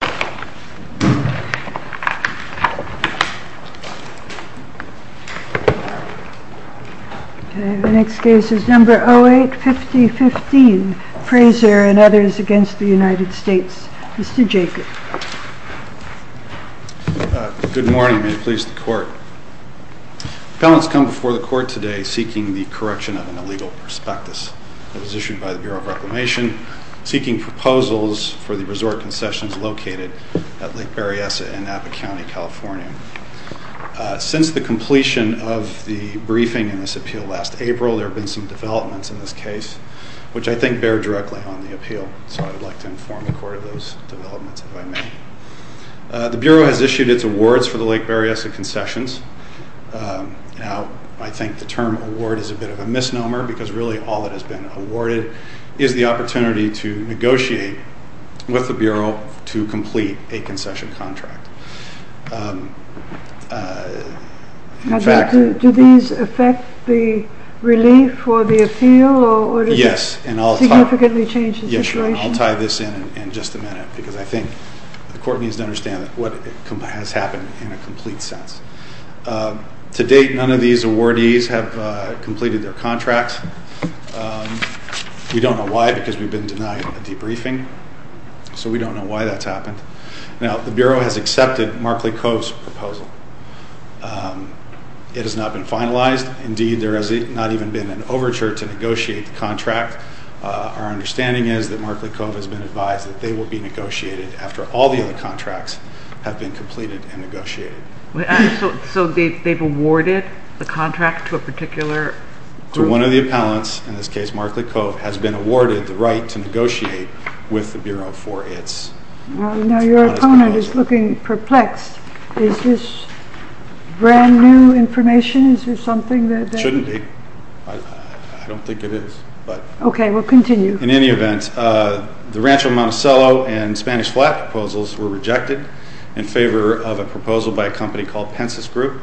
08-50-15 Frazier v. United States Good morning. May it please the Court. The appellant has come before the Court today seeking the correction of an illegal prospectus. It was issued by the Bureau of Reclamation, seeking proposals for the resort concessions located at Lake Berryessa in Napa County, California. Since the completion of the briefing in this appeal last April, there have been some developments in this case, which I think bear directly on the appeal, so I would like to inform the Court of those developments, if I may. The Bureau has issued its awards for the Lake Berryessa concessions. Now, I think the term award is a bit of a misnomer, because really all that has been awarded is the opportunity to negotiate with the Bureau to complete a concession contract. Now, do these affect the relief for the appeal, or does it significantly change the situation? Yes, and I'll tie this in in just a minute, because I think the Court needs to understand what has happened in a complete sense. To date, none of these awardees have completed their contracts. We don't know why, because we've been denied a debriefing, so we don't know why that's happened. Now, the Bureau has accepted Markley Cove's proposal. It has not been finalized. Indeed, there has not even been an overture to negotiate the contract. Our understanding is that Markley Cove has been advised that they will be negotiated after all the other contracts have been completed and negotiated. So they've awarded the contract to a particular group? To one of the appellants, in this case Markley Cove, has been awarded the right to negotiate with the Bureau for its... Now, your opponent is looking perplexed. Is this brand new information? Is there something that... It shouldn't be. I don't think it is, but... Okay, we'll continue. In any event, the Rancho Monticello and Spanish Flat proposals were rejected in favor of a proposal by a company called Pensus Group,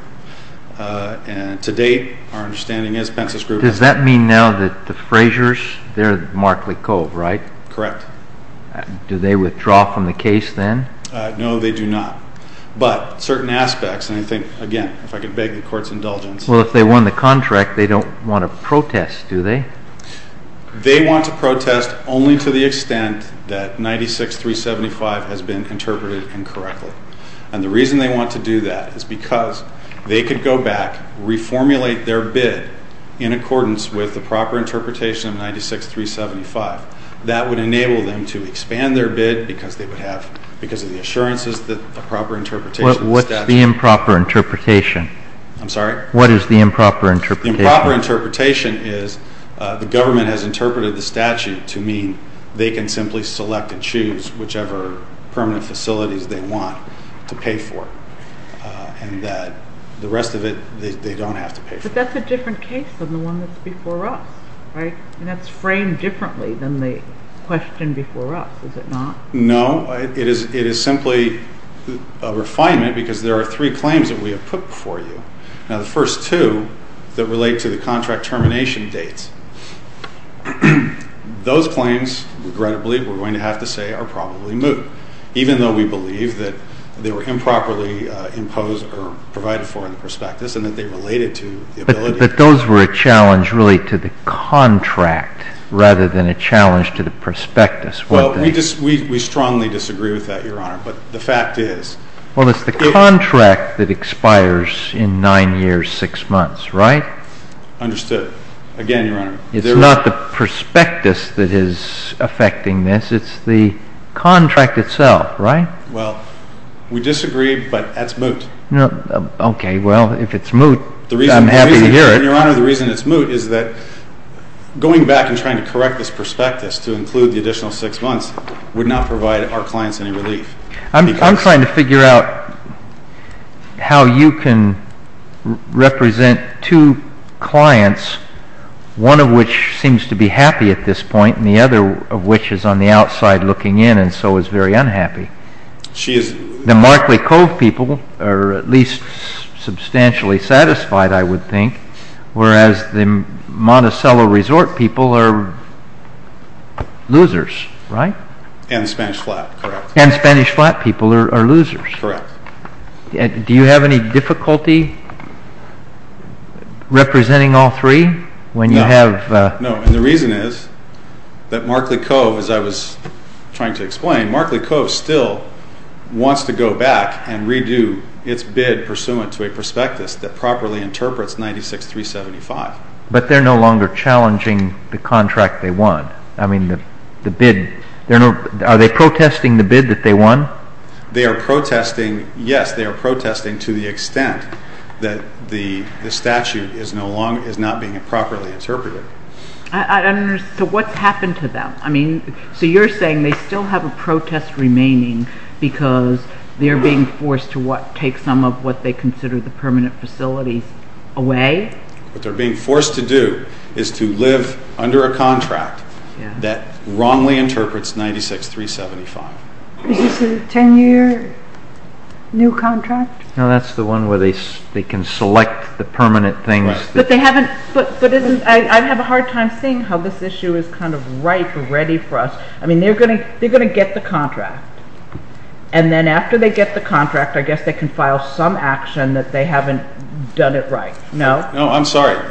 and to date our understanding is Pensus Group... Does that mean now that the Fraziers, they're Markley Cove, right? Correct. Do they withdraw from the case then? No, they do not. But certain aspects, and I think, again, if I could beg the Court's indulgence... Well, if they won the contract, they don't want to protest, do they? They want to protest only to the extent that 96-375 has been interpreted incorrectly, and the reason they want to do that is because they could go back, reformulate their bid in accordance with the proper interpretation of 96-375. That would enable them to expand their bid because they would have, because of the assurances that the improper interpretation... I'm sorry? What is the improper interpretation? The improper interpretation is the government has interpreted the statute to mean they can simply select and choose whichever permanent facilities they want to pay for, and that the rest of it they don't have to pay for. But that's a different case than the one that's before us, right? And that's framed differently than the question before us, is it not? No, it is simply a refinement because there are three claims that we have put before you. Now, the first two that relate to the contract termination dates. Those claims, regrettably, we're going to have to say are probably moot, even though we believe that they were improperly imposed or provided for in the prospectus and that they related to the ability... But those were a challenge, really, to the contract rather than a challenge to the prospectus. Well, we strongly disagree with that, Your Honor, but the fact is... Well, it's the contract that expires in nine years, six months, right? Understood. Again, Your Honor... It's not the prospectus that is affecting this. It's the contract itself, right? Well, we disagree, but that's moot. Okay, well, if it's moot, I'm happy to hear it. Your Honor, the reason it's moot is that going back and trying to correct this prospectus to include the additional six months would not provide our clients any relief. I'm trying to figure out how you can represent two clients, one of which seems to be at least substantially satisfied, I would think, whereas the Monticello Resort people are losers, right? And the Spanish Flat, correct. And the Spanish Flat people are losers. Correct. Do you have any difficulty representing all three when you have... No, and the reason is that Markley Cove, as I was trying to explain, Markley Cove still wants to go back and redo its bid pursuant to a prospectus that properly interprets 96-375. But they're no longer challenging the contract they won. I mean, the bid... Are they protesting the bid that they won? They are protesting, yes, they are protesting to the extent that the statute is not being properly interpreted. I don't understand, so what's happened to them? I mean, so you're saying they still have a protest remaining because they're being forced to take some of what they consider the permanent facilities away? What they're being forced to do is to live under a contract that wrongly interprets 96-375. Is this a ten-year new contract? No, that's the one where they can select the permanent things. But they haven't... I have a hard time seeing how this issue is kind of ripe and ready for us. I mean, they're going to get the contract. And then after they get the contract, I guess they can file some action that they haven't done it right. No? No, I'm sorry.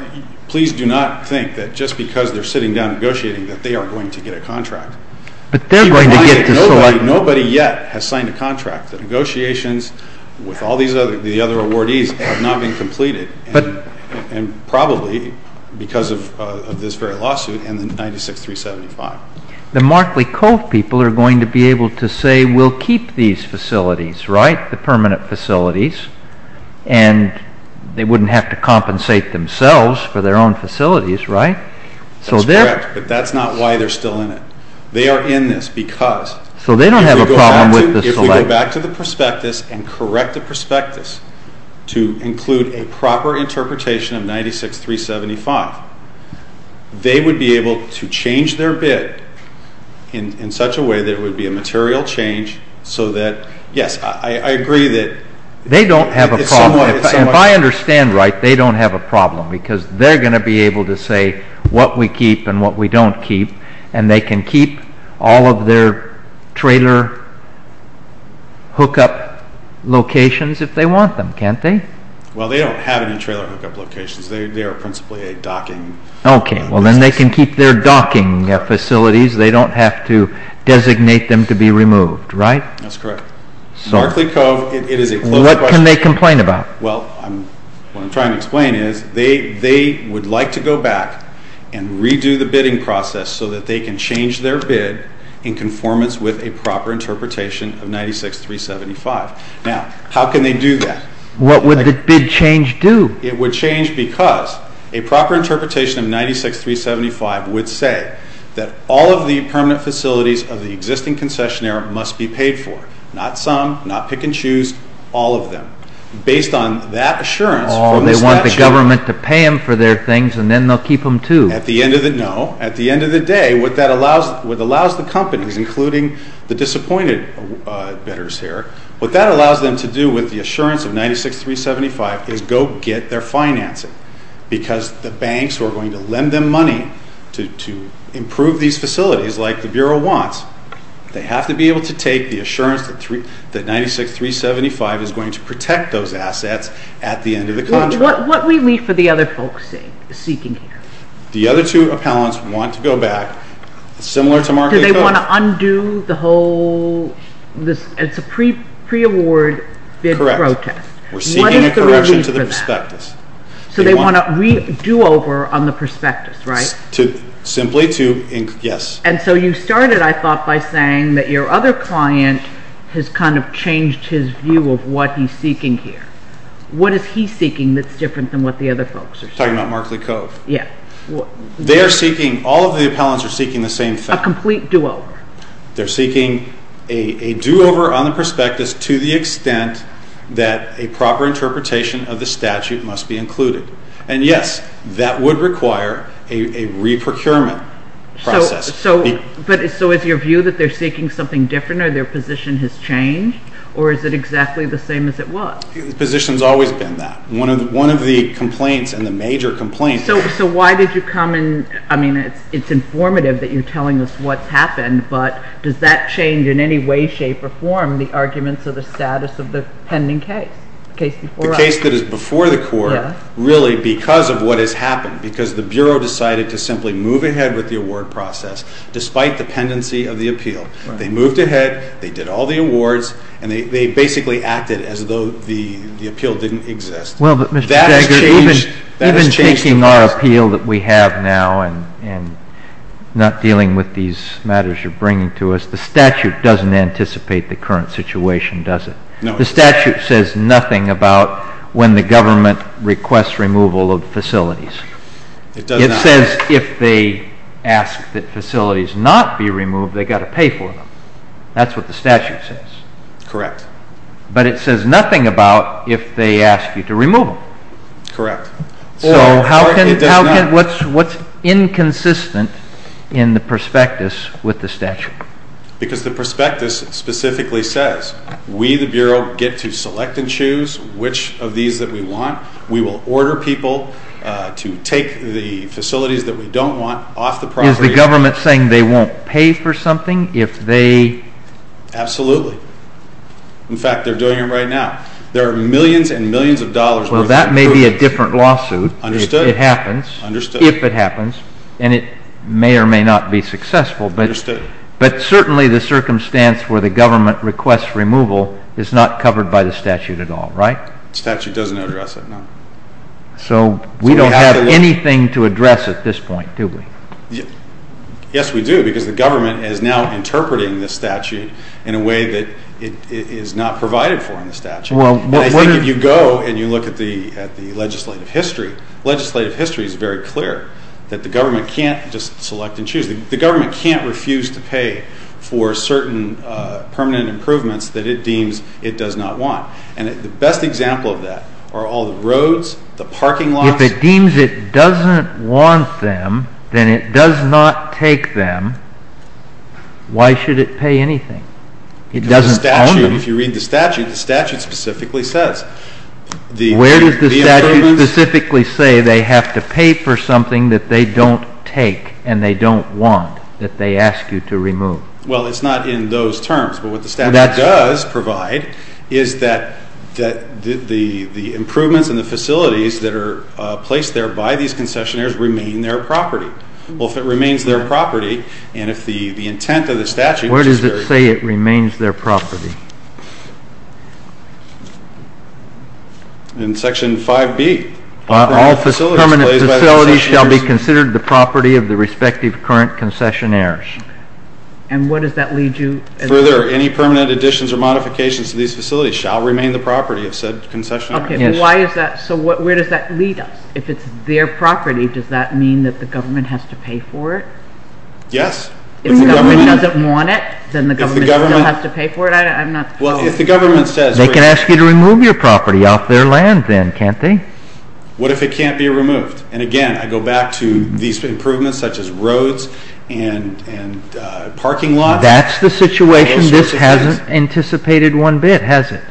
Please do not think that just because they're sitting down negotiating that they are going to get a contract. But they're going to get to select... Nobody yet has signed a contract. The negotiations with all the other awardees have not been completed, and probably because of this very lawsuit and the 96-375. The Markley Cove people are going to be able to say, we'll keep these facilities, right, the permanent facilities, and they wouldn't have to compensate themselves for their own facilities, right? That's correct, but that's not why they're still in it. They are in this because... So they don't have a problem with this selection? If we go back to the prospectus and correct the prospectus to include a proper interpretation of 96-375, they would be able to change their bid in such a way that it would be a material change so that, yes, I agree that... They don't have a problem. If I understand right, they don't have a problem because they're going to be able to say what we keep and what we don't keep, and they can keep all of their trailer hookup locations if they want them, can't they? Well, they don't have any trailer hookup locations. They are principally a docking... Okay, well then they can keep their docking facilities. They don't have to designate them to be removed, right? That's correct. Markley Cove, it is a closed question... What can they complain about? Well, what I'm trying to explain is they would like to go back and redo the bidding process so that they can change their bid in conformance with a proper interpretation of 96-375. Now, how can they do that? What would the bid change do? It would change because a proper interpretation of 96-375 would say that all of the permanent facilities of the existing concessionaire must be paid for. Not some, not pick and choose, all of them. Based on that assurance... Oh, they want the government to pay them for their things and then they'll keep them too. No. At the end of the day, what that allows the companies, including the disappointed bidders here, what that allows them to do with the assurance of 96-375 is go get their financing. Because the banks who are going to lend them money to improve these facilities, like the Bureau wants, they have to be able to take the assurance that 96-375 is going to protect those assets at the end of the contract. What do we leave for the other folks seeking here? The other two appellants want to go back, similar to Markley Cove... Do they want to undo the whole...it's a pre-award bid protest. Correct. We're seeking a correction to the prospectus. So they want a redo over on the prospectus, right? Simply to...yes. And so you started, I thought, by saying that your other client has kind of changed his view of what he's seeking here. What is he seeking that's different than what the other folks are seeking? Talking about Markley Cove. They are seeking...all of the appellants are seeking the same thing. A complete do-over. They're seeking a do-over on the prospectus to the extent that a proper interpretation of the statute must be included. And yes, that would require a re-procurement process. So is your view that they're seeking something different, or their position has changed, or is it exactly the same as it was? The position's always been that. One of the complaints, and the major complaint... So why did you come and...I mean, it's informative that you're telling us what's happened, but does that change in any way, shape, or form the arguments of the status of the pending case? The case that is before the court, really, because of what has happened. Because the Bureau decided to simply move ahead with the award process, despite the pendency of the appeal. They moved ahead, they did all the awards, and they basically acted as though the appeal didn't exist. Well, but Mr. Jagger, even taking our appeal that we have now, and not dealing with these matters you're bringing to us, the statute doesn't anticipate the current situation, does it? No, it doesn't. The statute says nothing about when the government requests removal of facilities. It does not. It says if they ask that facilities not be removed, they've got to pay for them. That's what the statute says. Correct. But it says nothing about if they ask you to remove them. Correct. So how can... What's inconsistent in the prospectus with the statute? Because the prospectus specifically says, we, the Bureau, get to select and choose which of these that we want. We will order people to take the facilities that we don't want off the property. Is the government saying they won't pay for something if they... Absolutely. In fact, they're doing it right now. There are millions and millions of dollars worth of... Well, that may be a different lawsuit. Understood. If it happens. And it may or may not be successful. Understood. But certainly the circumstance where the government requests removal is not covered by the statute at all, right? The statute doesn't address it, no. So we don't have anything to address at this point, do we? Yes, we do, because the government is now interpreting the statute in a way that it is not provided for in the statute. And I think if you go and you look at the legislative history, legislative history is very clear that the government can't just select and choose. The government can't refuse to pay for certain permanent improvements that it deems it does not want. And the best example of that are all the roads, the parking lots... If it deems it doesn't want them, then it does not take them, why should it pay anything? It doesn't own them. If you read the statute, the statute specifically says... Where does the statute specifically say they have to pay for something that they don't take and they don't want, that they ask you to remove? Well, it's not in those terms. But what the statute does provide is that the improvements and the facilities that are placed there by these concessionaires remain their property. Well, if it remains their property, and if the intent of the statute... Where does it say it remains their property? In section 5B. All permanent facilities shall be considered the property of the respective current concessionaires. And what does that lead you... Further, any permanent additions or modifications to these facilities shall remain the property of said concessionaires. So where does that lead us? If it's their property, does that mean that the government has to pay for it? Yes. If the government doesn't want it, then the government still has to pay for it? If the government says... What if it can't be removed? What if it can't be removed? And again, I go back to these improvements such as roads and parking lots... That's the situation. This hasn't anticipated one bit, has it?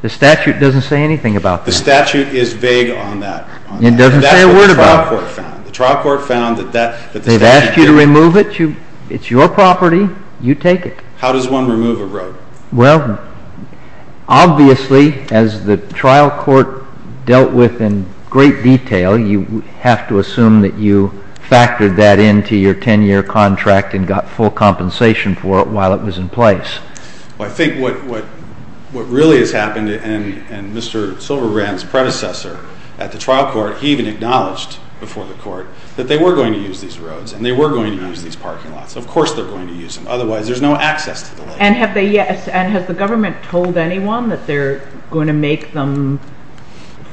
The statute doesn't say anything about that. The statute is vague on that. It doesn't say a word about it. The trial court found that... They've asked you to remove it. It's your property. You take it. How does one remove a road? Well, obviously, as the trial court dealt with in great detail, you have to assume that you factored that into your 10-year contract and got full compensation for it while it was in place. I think what really has happened, and Mr. Silverbrand's predecessor at the trial court, he even acknowledged before the court that they were going to use these roads and they were going to use these parking lots. Of course they're going to use them. Otherwise, there's no access to the land. And has the government told anyone that they're going to make them,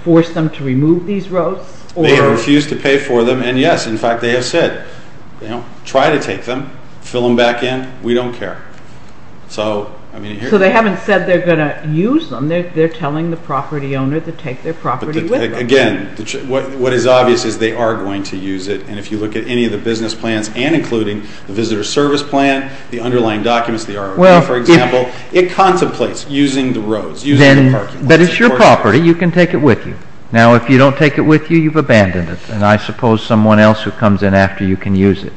force them to remove these roads? They have refused to pay for them. And yes, in fact, they have said, try to take them, fill them back in. We don't care. So they haven't said they're going to use them. They're telling the property owner to take their property with them. Again, what is obvious is they are going to use it. And if you look at any of the business plans, and including the visitor service plan, the underlying documents, the ROV, for example, it contemplates using the roads, using the parking lots. But it's your property. You can take it with you. Now, if you don't take it with you, you've abandoned it. And I suppose someone else who comes in after you can use it.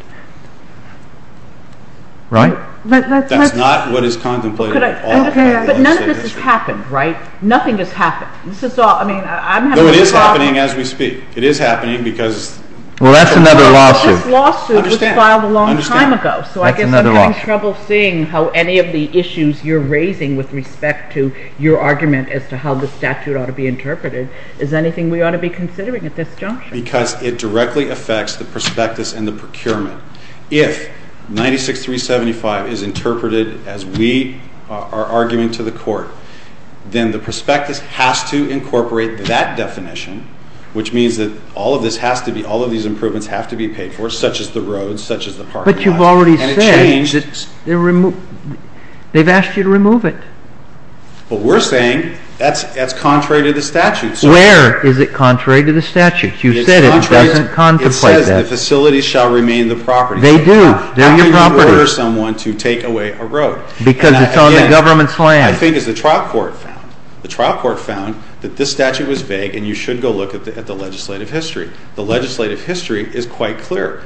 Right? That's not what is contemplated at all. But none of this has happened, right? Nothing has happened. Though it is happening as we speak. It is happening because Well, that's another lawsuit. This lawsuit was filed a long time ago. So I guess I'm having trouble seeing how any of the issues you're raising with respect to your argument as to how the statute ought to be interpreted is anything we ought to be considering at this juncture. Because it directly affects the prospectus and the procurement. If 96-375 is interpreted as we are arguing to the court, then the prospectus has to incorporate that definition, which means that all of this has to be, all of these improvements have to be paid for, such as the roads, such as the parking lot. But you've already said they've asked you to remove it. But we're saying that's contrary to the statute. Where is it contrary to the statute? You said it doesn't contemplate that. It says the facilities shall remain the property. They do. They're your property. How can you order someone to take away a road? Because it's on the government's land. The thing is, the trial court found that this statute was vague and you should go look at the legislative history. The legislative history is quite clear.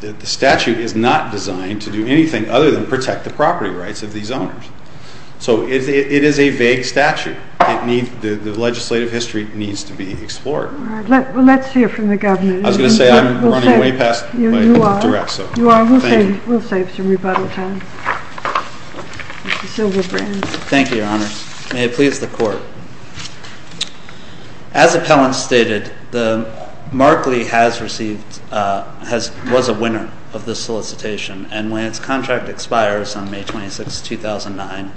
The statute is not designed to do anything other than protect the property rights of these owners. So it is a vague statute. The legislative history needs to be explored. Let's hear from the governor. I was going to say I'm running way past my directs. You are. We'll save some rebuttal time. Mr. Silverbrand. Thank you, Your Honor. May it please the court. As appellant stated, Mark Lee was a winner of this solicitation and when its contract expires on May 26, 2009,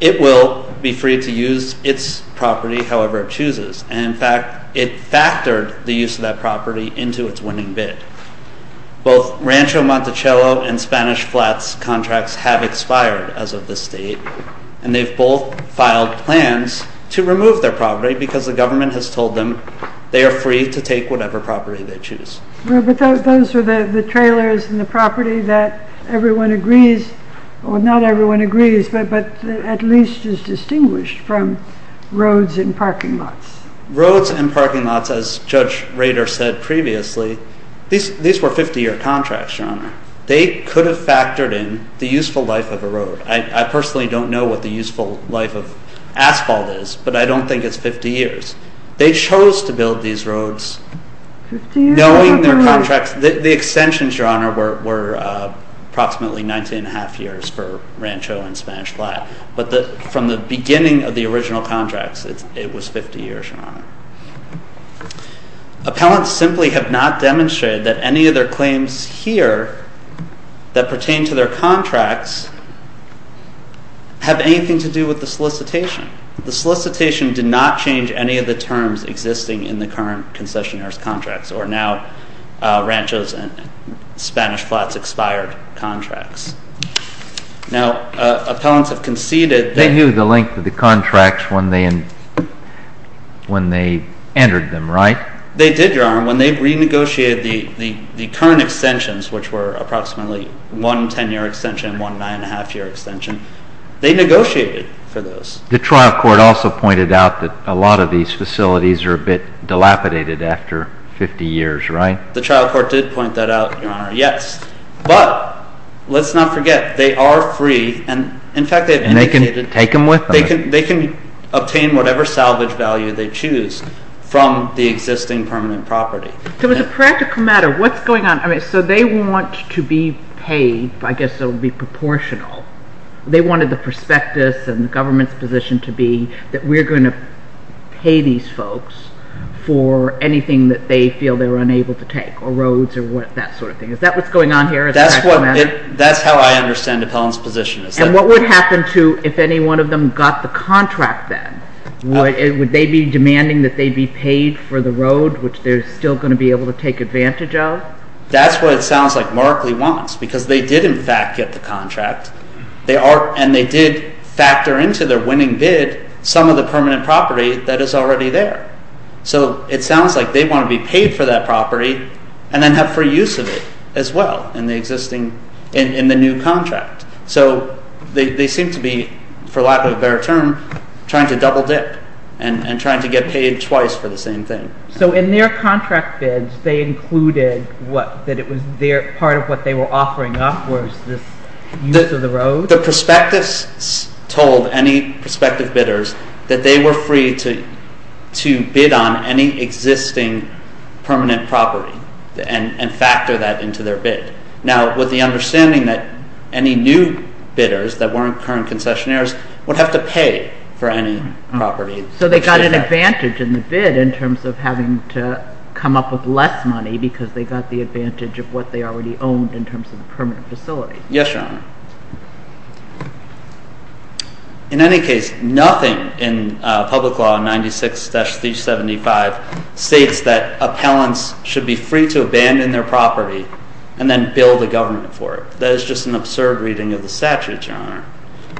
it will be free to use its property however it chooses. In fact, it factored the use of that property into its winning bid. Both Rancho Monticello and Spanish Flats contracts have expired as of this date and they've both filed plans to remove their property because the government has told them they are free to take whatever property they choose. Those are the trailers and the property that everyone agrees or not everyone agrees but at least is distinguished from roads and parking lots. Roads and parking lots as Judge Rader said previously, these were 50-year contracts, Your Honor. They could have factored in the useful life of a road. I personally don't know what the useful life of asphalt is but I don't think it's 50 years. They chose to build these roads knowing their contracts. The extensions, Your Honor, were approximately 19 and a half years for Rancho and Spanish Flats but from the beginning of the original contracts, it was 50 years, Your Honor. Appellants simply have not demonstrated that any of their claims here that pertain to their contracts have anything to do with the solicitation. The solicitation did not change any of the terms existing in the current concessionaire's contracts or now Rancho's and Spanish Flats expired contracts. Now, appellants have conceded that They knew the length of the contracts when they entered them, right? They did, Your Honor. When they renegotiated the current extensions which were approximately one 10-year extension and one 9.5-year extension, they negotiated for those. The trial court also pointed out that a lot of these facilities are a bit dilapidated after 50 years, right? The trial court did point that out, Your Honor. Yes, but let's not forget, they are free and, in fact, they have indicated they can obtain whatever salvage value they choose from the existing permanent property. So as a practical matter, what's going on? So they want to be paid I guess it would be proportional. They wanted the prospectus and government's position to be that we're going to pay these folks for anything that they feel they're unable to take, or roads or that sort of thing. Is that what's going on here? That's how I understand appellant's position. And what would happen to if any one of them got the contract then? Would they be demanding that they be paid for the road, which they're still going to be able to take That's what it sounds like Markley wants because they did, in fact, get the contract and they did factor into their winning bid some of the permanent property that is already there. So it sounds like they want to be paid for that property and then have free use of it as well in the existing, in the new contract. So they seem to be, for lack of a better term, trying to double dip and trying to get paid twice for the same thing. So in their contract bids they included that it was part of what they were offering up was this use of the road? The prospectus told any prospective bidders that they were free to bid on any existing permanent property and factor that into their bid. Now with the understanding that any new bidders that weren't current concessionaires would have to pay for any property. So they got an advantage in the bid in terms of having to come up with less money because they got the advantage of what they already owned in terms of the permanent facility. Yes, Your Honor. In any case, nothing in public law 96-375 states that appellants should be free to abandon their property and then bill the government for it. That is just an absurd reading of the statute, Your Honor.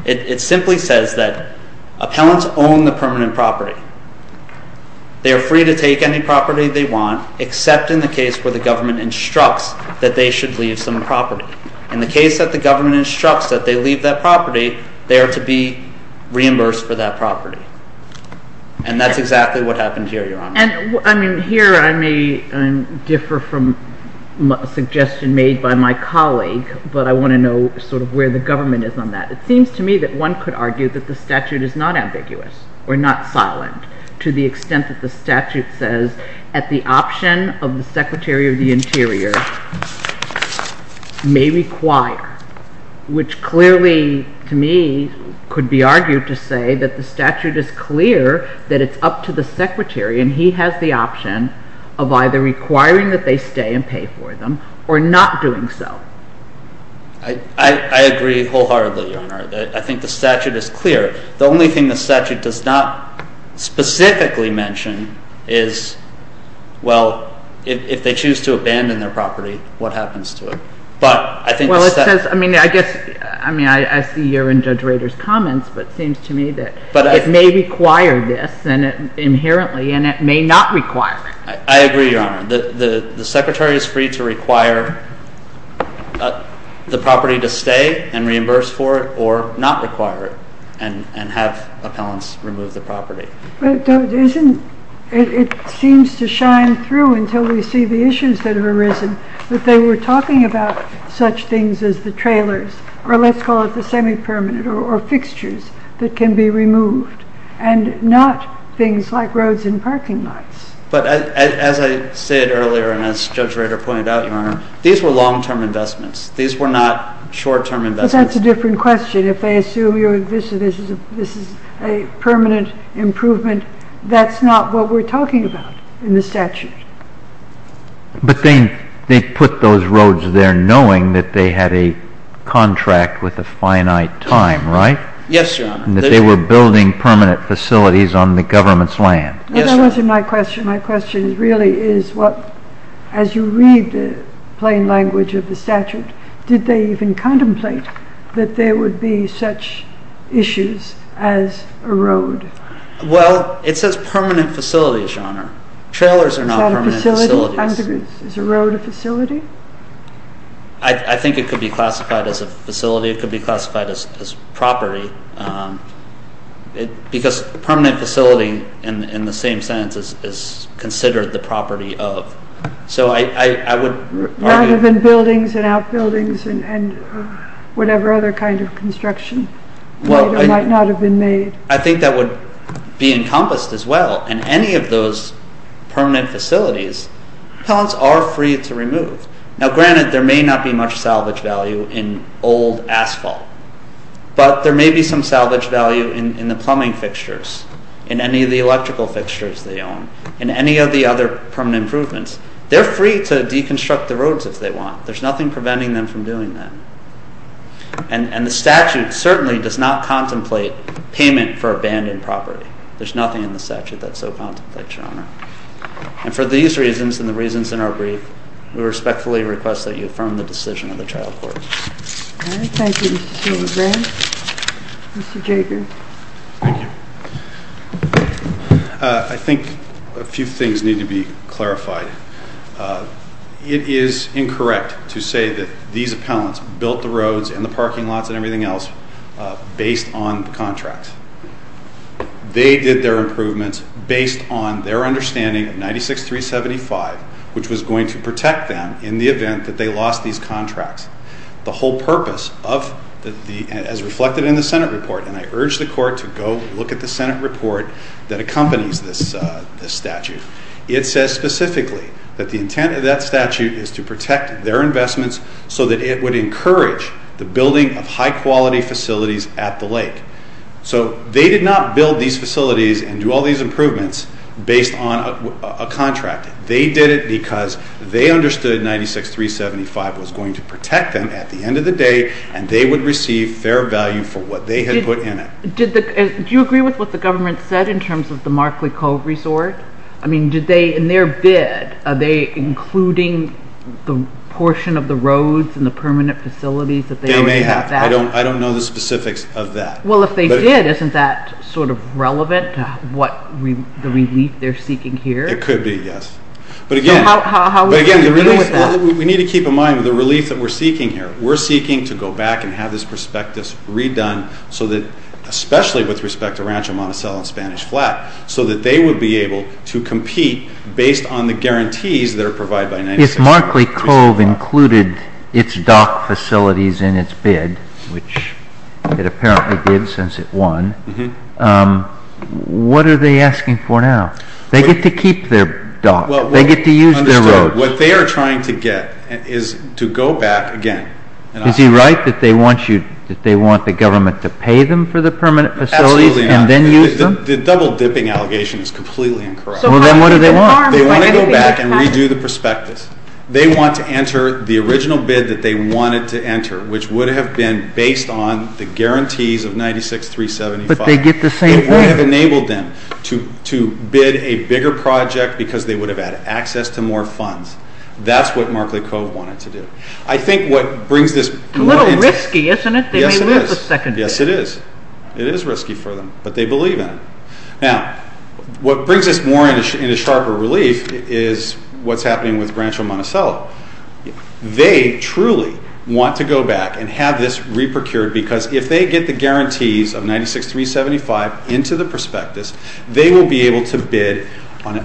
It simply says that appellants own the permanent property. They are free to take any property they want except in the case where the government instructs that they should leave some property. In the case that the government instructs that they leave that property, they are to be reimbursed for that property. And that's exactly what happened here, Your Honor. Here I may differ from a suggestion made by my colleague, but I want to know sort of where the government is on that. It seems to me that one could argue that the statute is not ambiguous or not silent to the extent that the statute says that the option of the Secretary of the Interior may require which clearly to me could be argued to say that the statute is clear that it's up to the Secretary and he has the option and pay for them or not doing so. I agree wholeheartedly, Your Honor. I think the statute is clear. The only thing the statute does not specifically mention is well if they choose to abandon their property what happens to it? I see your and Judge Rader's comments but it seems to me that it may require this inherently and it may not require it. I agree, Your Honor. The Secretary is free to require the property to reimburse for it or not require it and have appellants remove the property. It seems to shine through until we see the issues that have arisen that they were talking about such things as the trailers or let's call it the semi-permanent or fixtures that can be removed and not things like roads and parking lots. But as I said earlier and as Judge Rader pointed out, Your Honor these were long-term investments. These were not short-term investments. Well, that's a different question. If they assume this is a permanent improvement that's not what we're talking about in the statute. But they put those roads there knowing that they had a contract with a finite time, right? Yes, Your Honor. That they were building permanent facilities on the government's land. Yes, Your Honor. That wasn't my question. My question really is what, as you read the plain language of the statute did they even contemplate that there would be such issues as a road? Well, it says permanent facilities, Your Honor. Trailers are not permanent facilities. Is a road a facility? I think it could be classified as a facility. It could be classified as property because permanent facility in the same sentence is considered the property of. So I would argue... It might have been buildings and outbuildings and whatever other kind of construction might not have been made. I think that would be encompassed as well and any of those permanent facilities, are free to remove. Now granted there may not be much salvage value in old asphalt but there may be some salvage value in the plumbing fixtures in any of the electrical fixtures they own in any of the other permanent improvements they're free to deconstruct the roads if they want. There's nothing preventing them from doing that. And the statute certainly does not contemplate payment for abandoned property. There's nothing in the statute that so contemplates, Your Honor. And for these reasons and the reasons in our brief we respectfully request that you affirm the decision of the trial court. Thank you, Mr. Schillenbrand. Mr. Jager. Thank you. I think a few things need to be clarified. It is incorrect to say that these appellants built the roads and the parking lots and everything else based on the contracts. They did their improvements based on their understanding of 96-375 which was going to protect them in the event that they lost these contracts. The whole purpose of as reflected in the Senate report and I urge the court to go look at the Senate report that accompanies this statute. It says specifically that the intent of that statute is to protect their investments so that it would encourage the building of high quality facilities at the lake. So they did not build these facilities and do all these improvements based on a contract. They did it because they understood 96-375 was going to protect them at the end of the day and they would receive fair value for what they had put in it. Do you agree with what the government said in terms of the Markley Cove resort? In their bid are they including the portion of the roads and the permanent facilities? They may have. I don't know the specifics of that. Well if they did, isn't that sort of relevant to what the relief they're seeking here? It could be, yes. How are we going to deal with that? We need to keep in mind the relief we're seeking here. We're seeking to go back and have this prospectus redone so that especially with respect to Rancho Monticello and Spanish Flat, so that they would be able to compete based on the guarantees that are provided by 96-375. If Markley Cove included its dock facilities in its bid which it apparently did since it won what are they asking for now? They get to keep their dock. They get to use their road. What they are trying to get is to go back again. Is he right that they want the government to pay them for the permanent facilities and then use them? The double dipping allegation is completely incorrect. Well then what do they want? They want to go back and redo the prospectus. They want to enter the original bid that they wanted to enter which would have been based on the guarantees of 96-375. But they get the same thing. It would have enabled them to bid a bigger project because they would have had access to more funds. That's what Markley Cove wanted to do. I think what brings this A little risky isn't it? Yes it is. It is risky for them, but they believe in it. Now, what brings this more into sharper relief is what's happening with Rancho Monticello. They truly want to go back and have this re-procured because if they get the guarantees of 96-375 into the prospectus, they will be able to bid on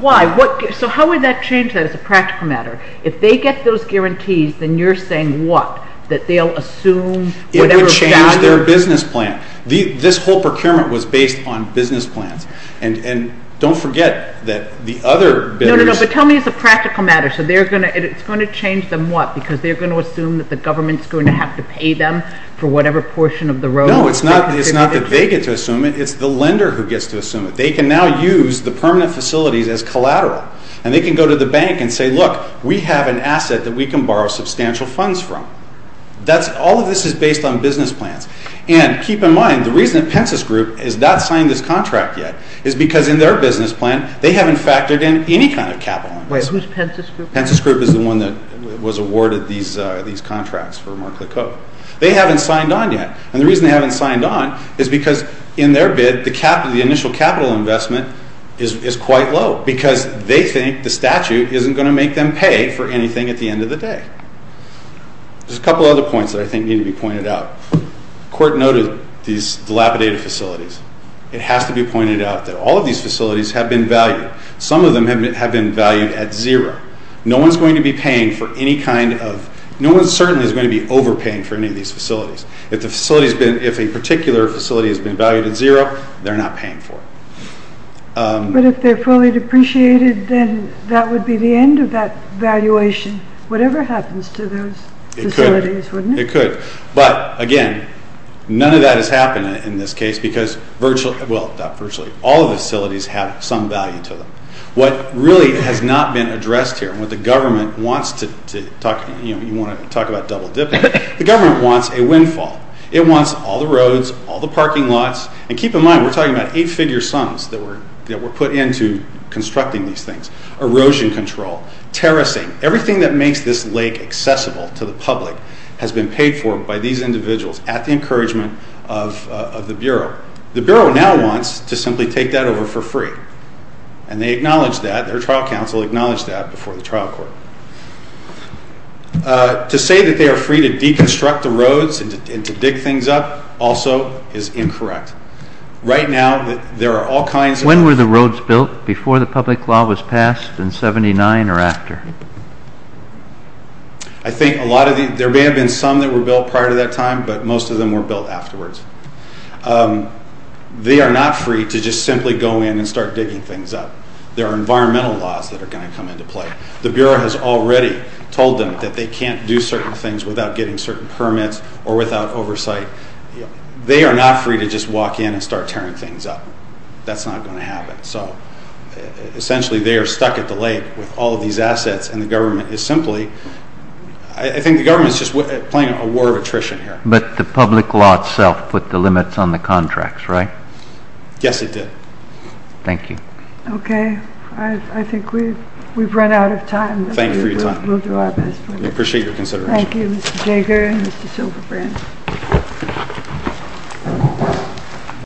Why? So how would that change that as a practical matter? If they get those guarantees, then you're saying what? That they'll assume It would change their business plan. This whole procurement was based on business plans. Don't forget that the other bidders No, but tell me as a practical matter it's going to change them what? Because they're going to assume that the government's going to have to pay them for whatever portion of the road? No, it's not that they get to assume it. It's the lender who gets to assume it. They can now use the permanent facilities as collateral. And they can go to the bank and say, look, we have an asset that we can borrow substantial funds from. All of this is based on business plans. And keep in mind the reason that Pence's group has not signed this contract yet is because in their business plan, they haven't factored in any kind of capital. Wait, who's Pence's group? Pence's group is the one that was awarded these contracts for Mark LeCoe. They haven't signed on yet. And the reason they haven't signed on is because in their bid, the initial capital investment is quite low. Because they think the statute isn't going to make them pay for anything at the end of the day. There's a couple other points that I think need to be pointed out. The court noted these dilapidated facilities. It has to be pointed out that all of these facilities have been valued. Some of them have been valued at zero. No one's going to be paying for any kind of no one certainly is going to be overpaying for any of these facilities. If a particular facility has been valued at zero, they're not paying for it. But if they're fully depreciated, then that would be the end of that valuation, whatever happens to those facilities, wouldn't it? It could. But, again, none of that has happened in this case because virtually, well, not virtually, all of the facilities have some value to them. What really has not been addressed here, what the government wants to talk, you know, you want to talk about double dipping, the government wants a windfall. It wants all the roads, all the parking lots, and keep in mind we're talking about eight-figure sums that were put into constructing these things. Erosion control, terracing, everything that makes this lake accessible to the public has been paid for by these individuals at the encouragement of the Bureau. The Bureau now wants to simply take that over for free. And they acknowledge that. Their trial counsel acknowledged that before the trial court. To say that they are free to deconstruct the roads and to dig things up also is incorrect. Right now, there are all kinds of... When were the roads built before the public law was passed in 79 or after? I think a lot of these, there may have been some that were built prior to that time, but most of them were built afterwards. They are not free to just simply go in and start digging things up. There are environmental laws that are going to come into play. The Bureau has already told them that they can't do certain things without getting certain permits or without oversight. They are not free to just walk in and start tearing things up. That's not going to happen. So, essentially, they are stuck at the lake with all of these assets and the government is simply... I think the government is just playing a war of attrition here. But the public law itself put the limits on the contracts, right? Yes, it did. Thank you. Okay. I think we've run out of time. Thank you for your time. We'll do our best. We appreciate your consideration. Thank you, Mr. Jager and Mr. Silverbrand.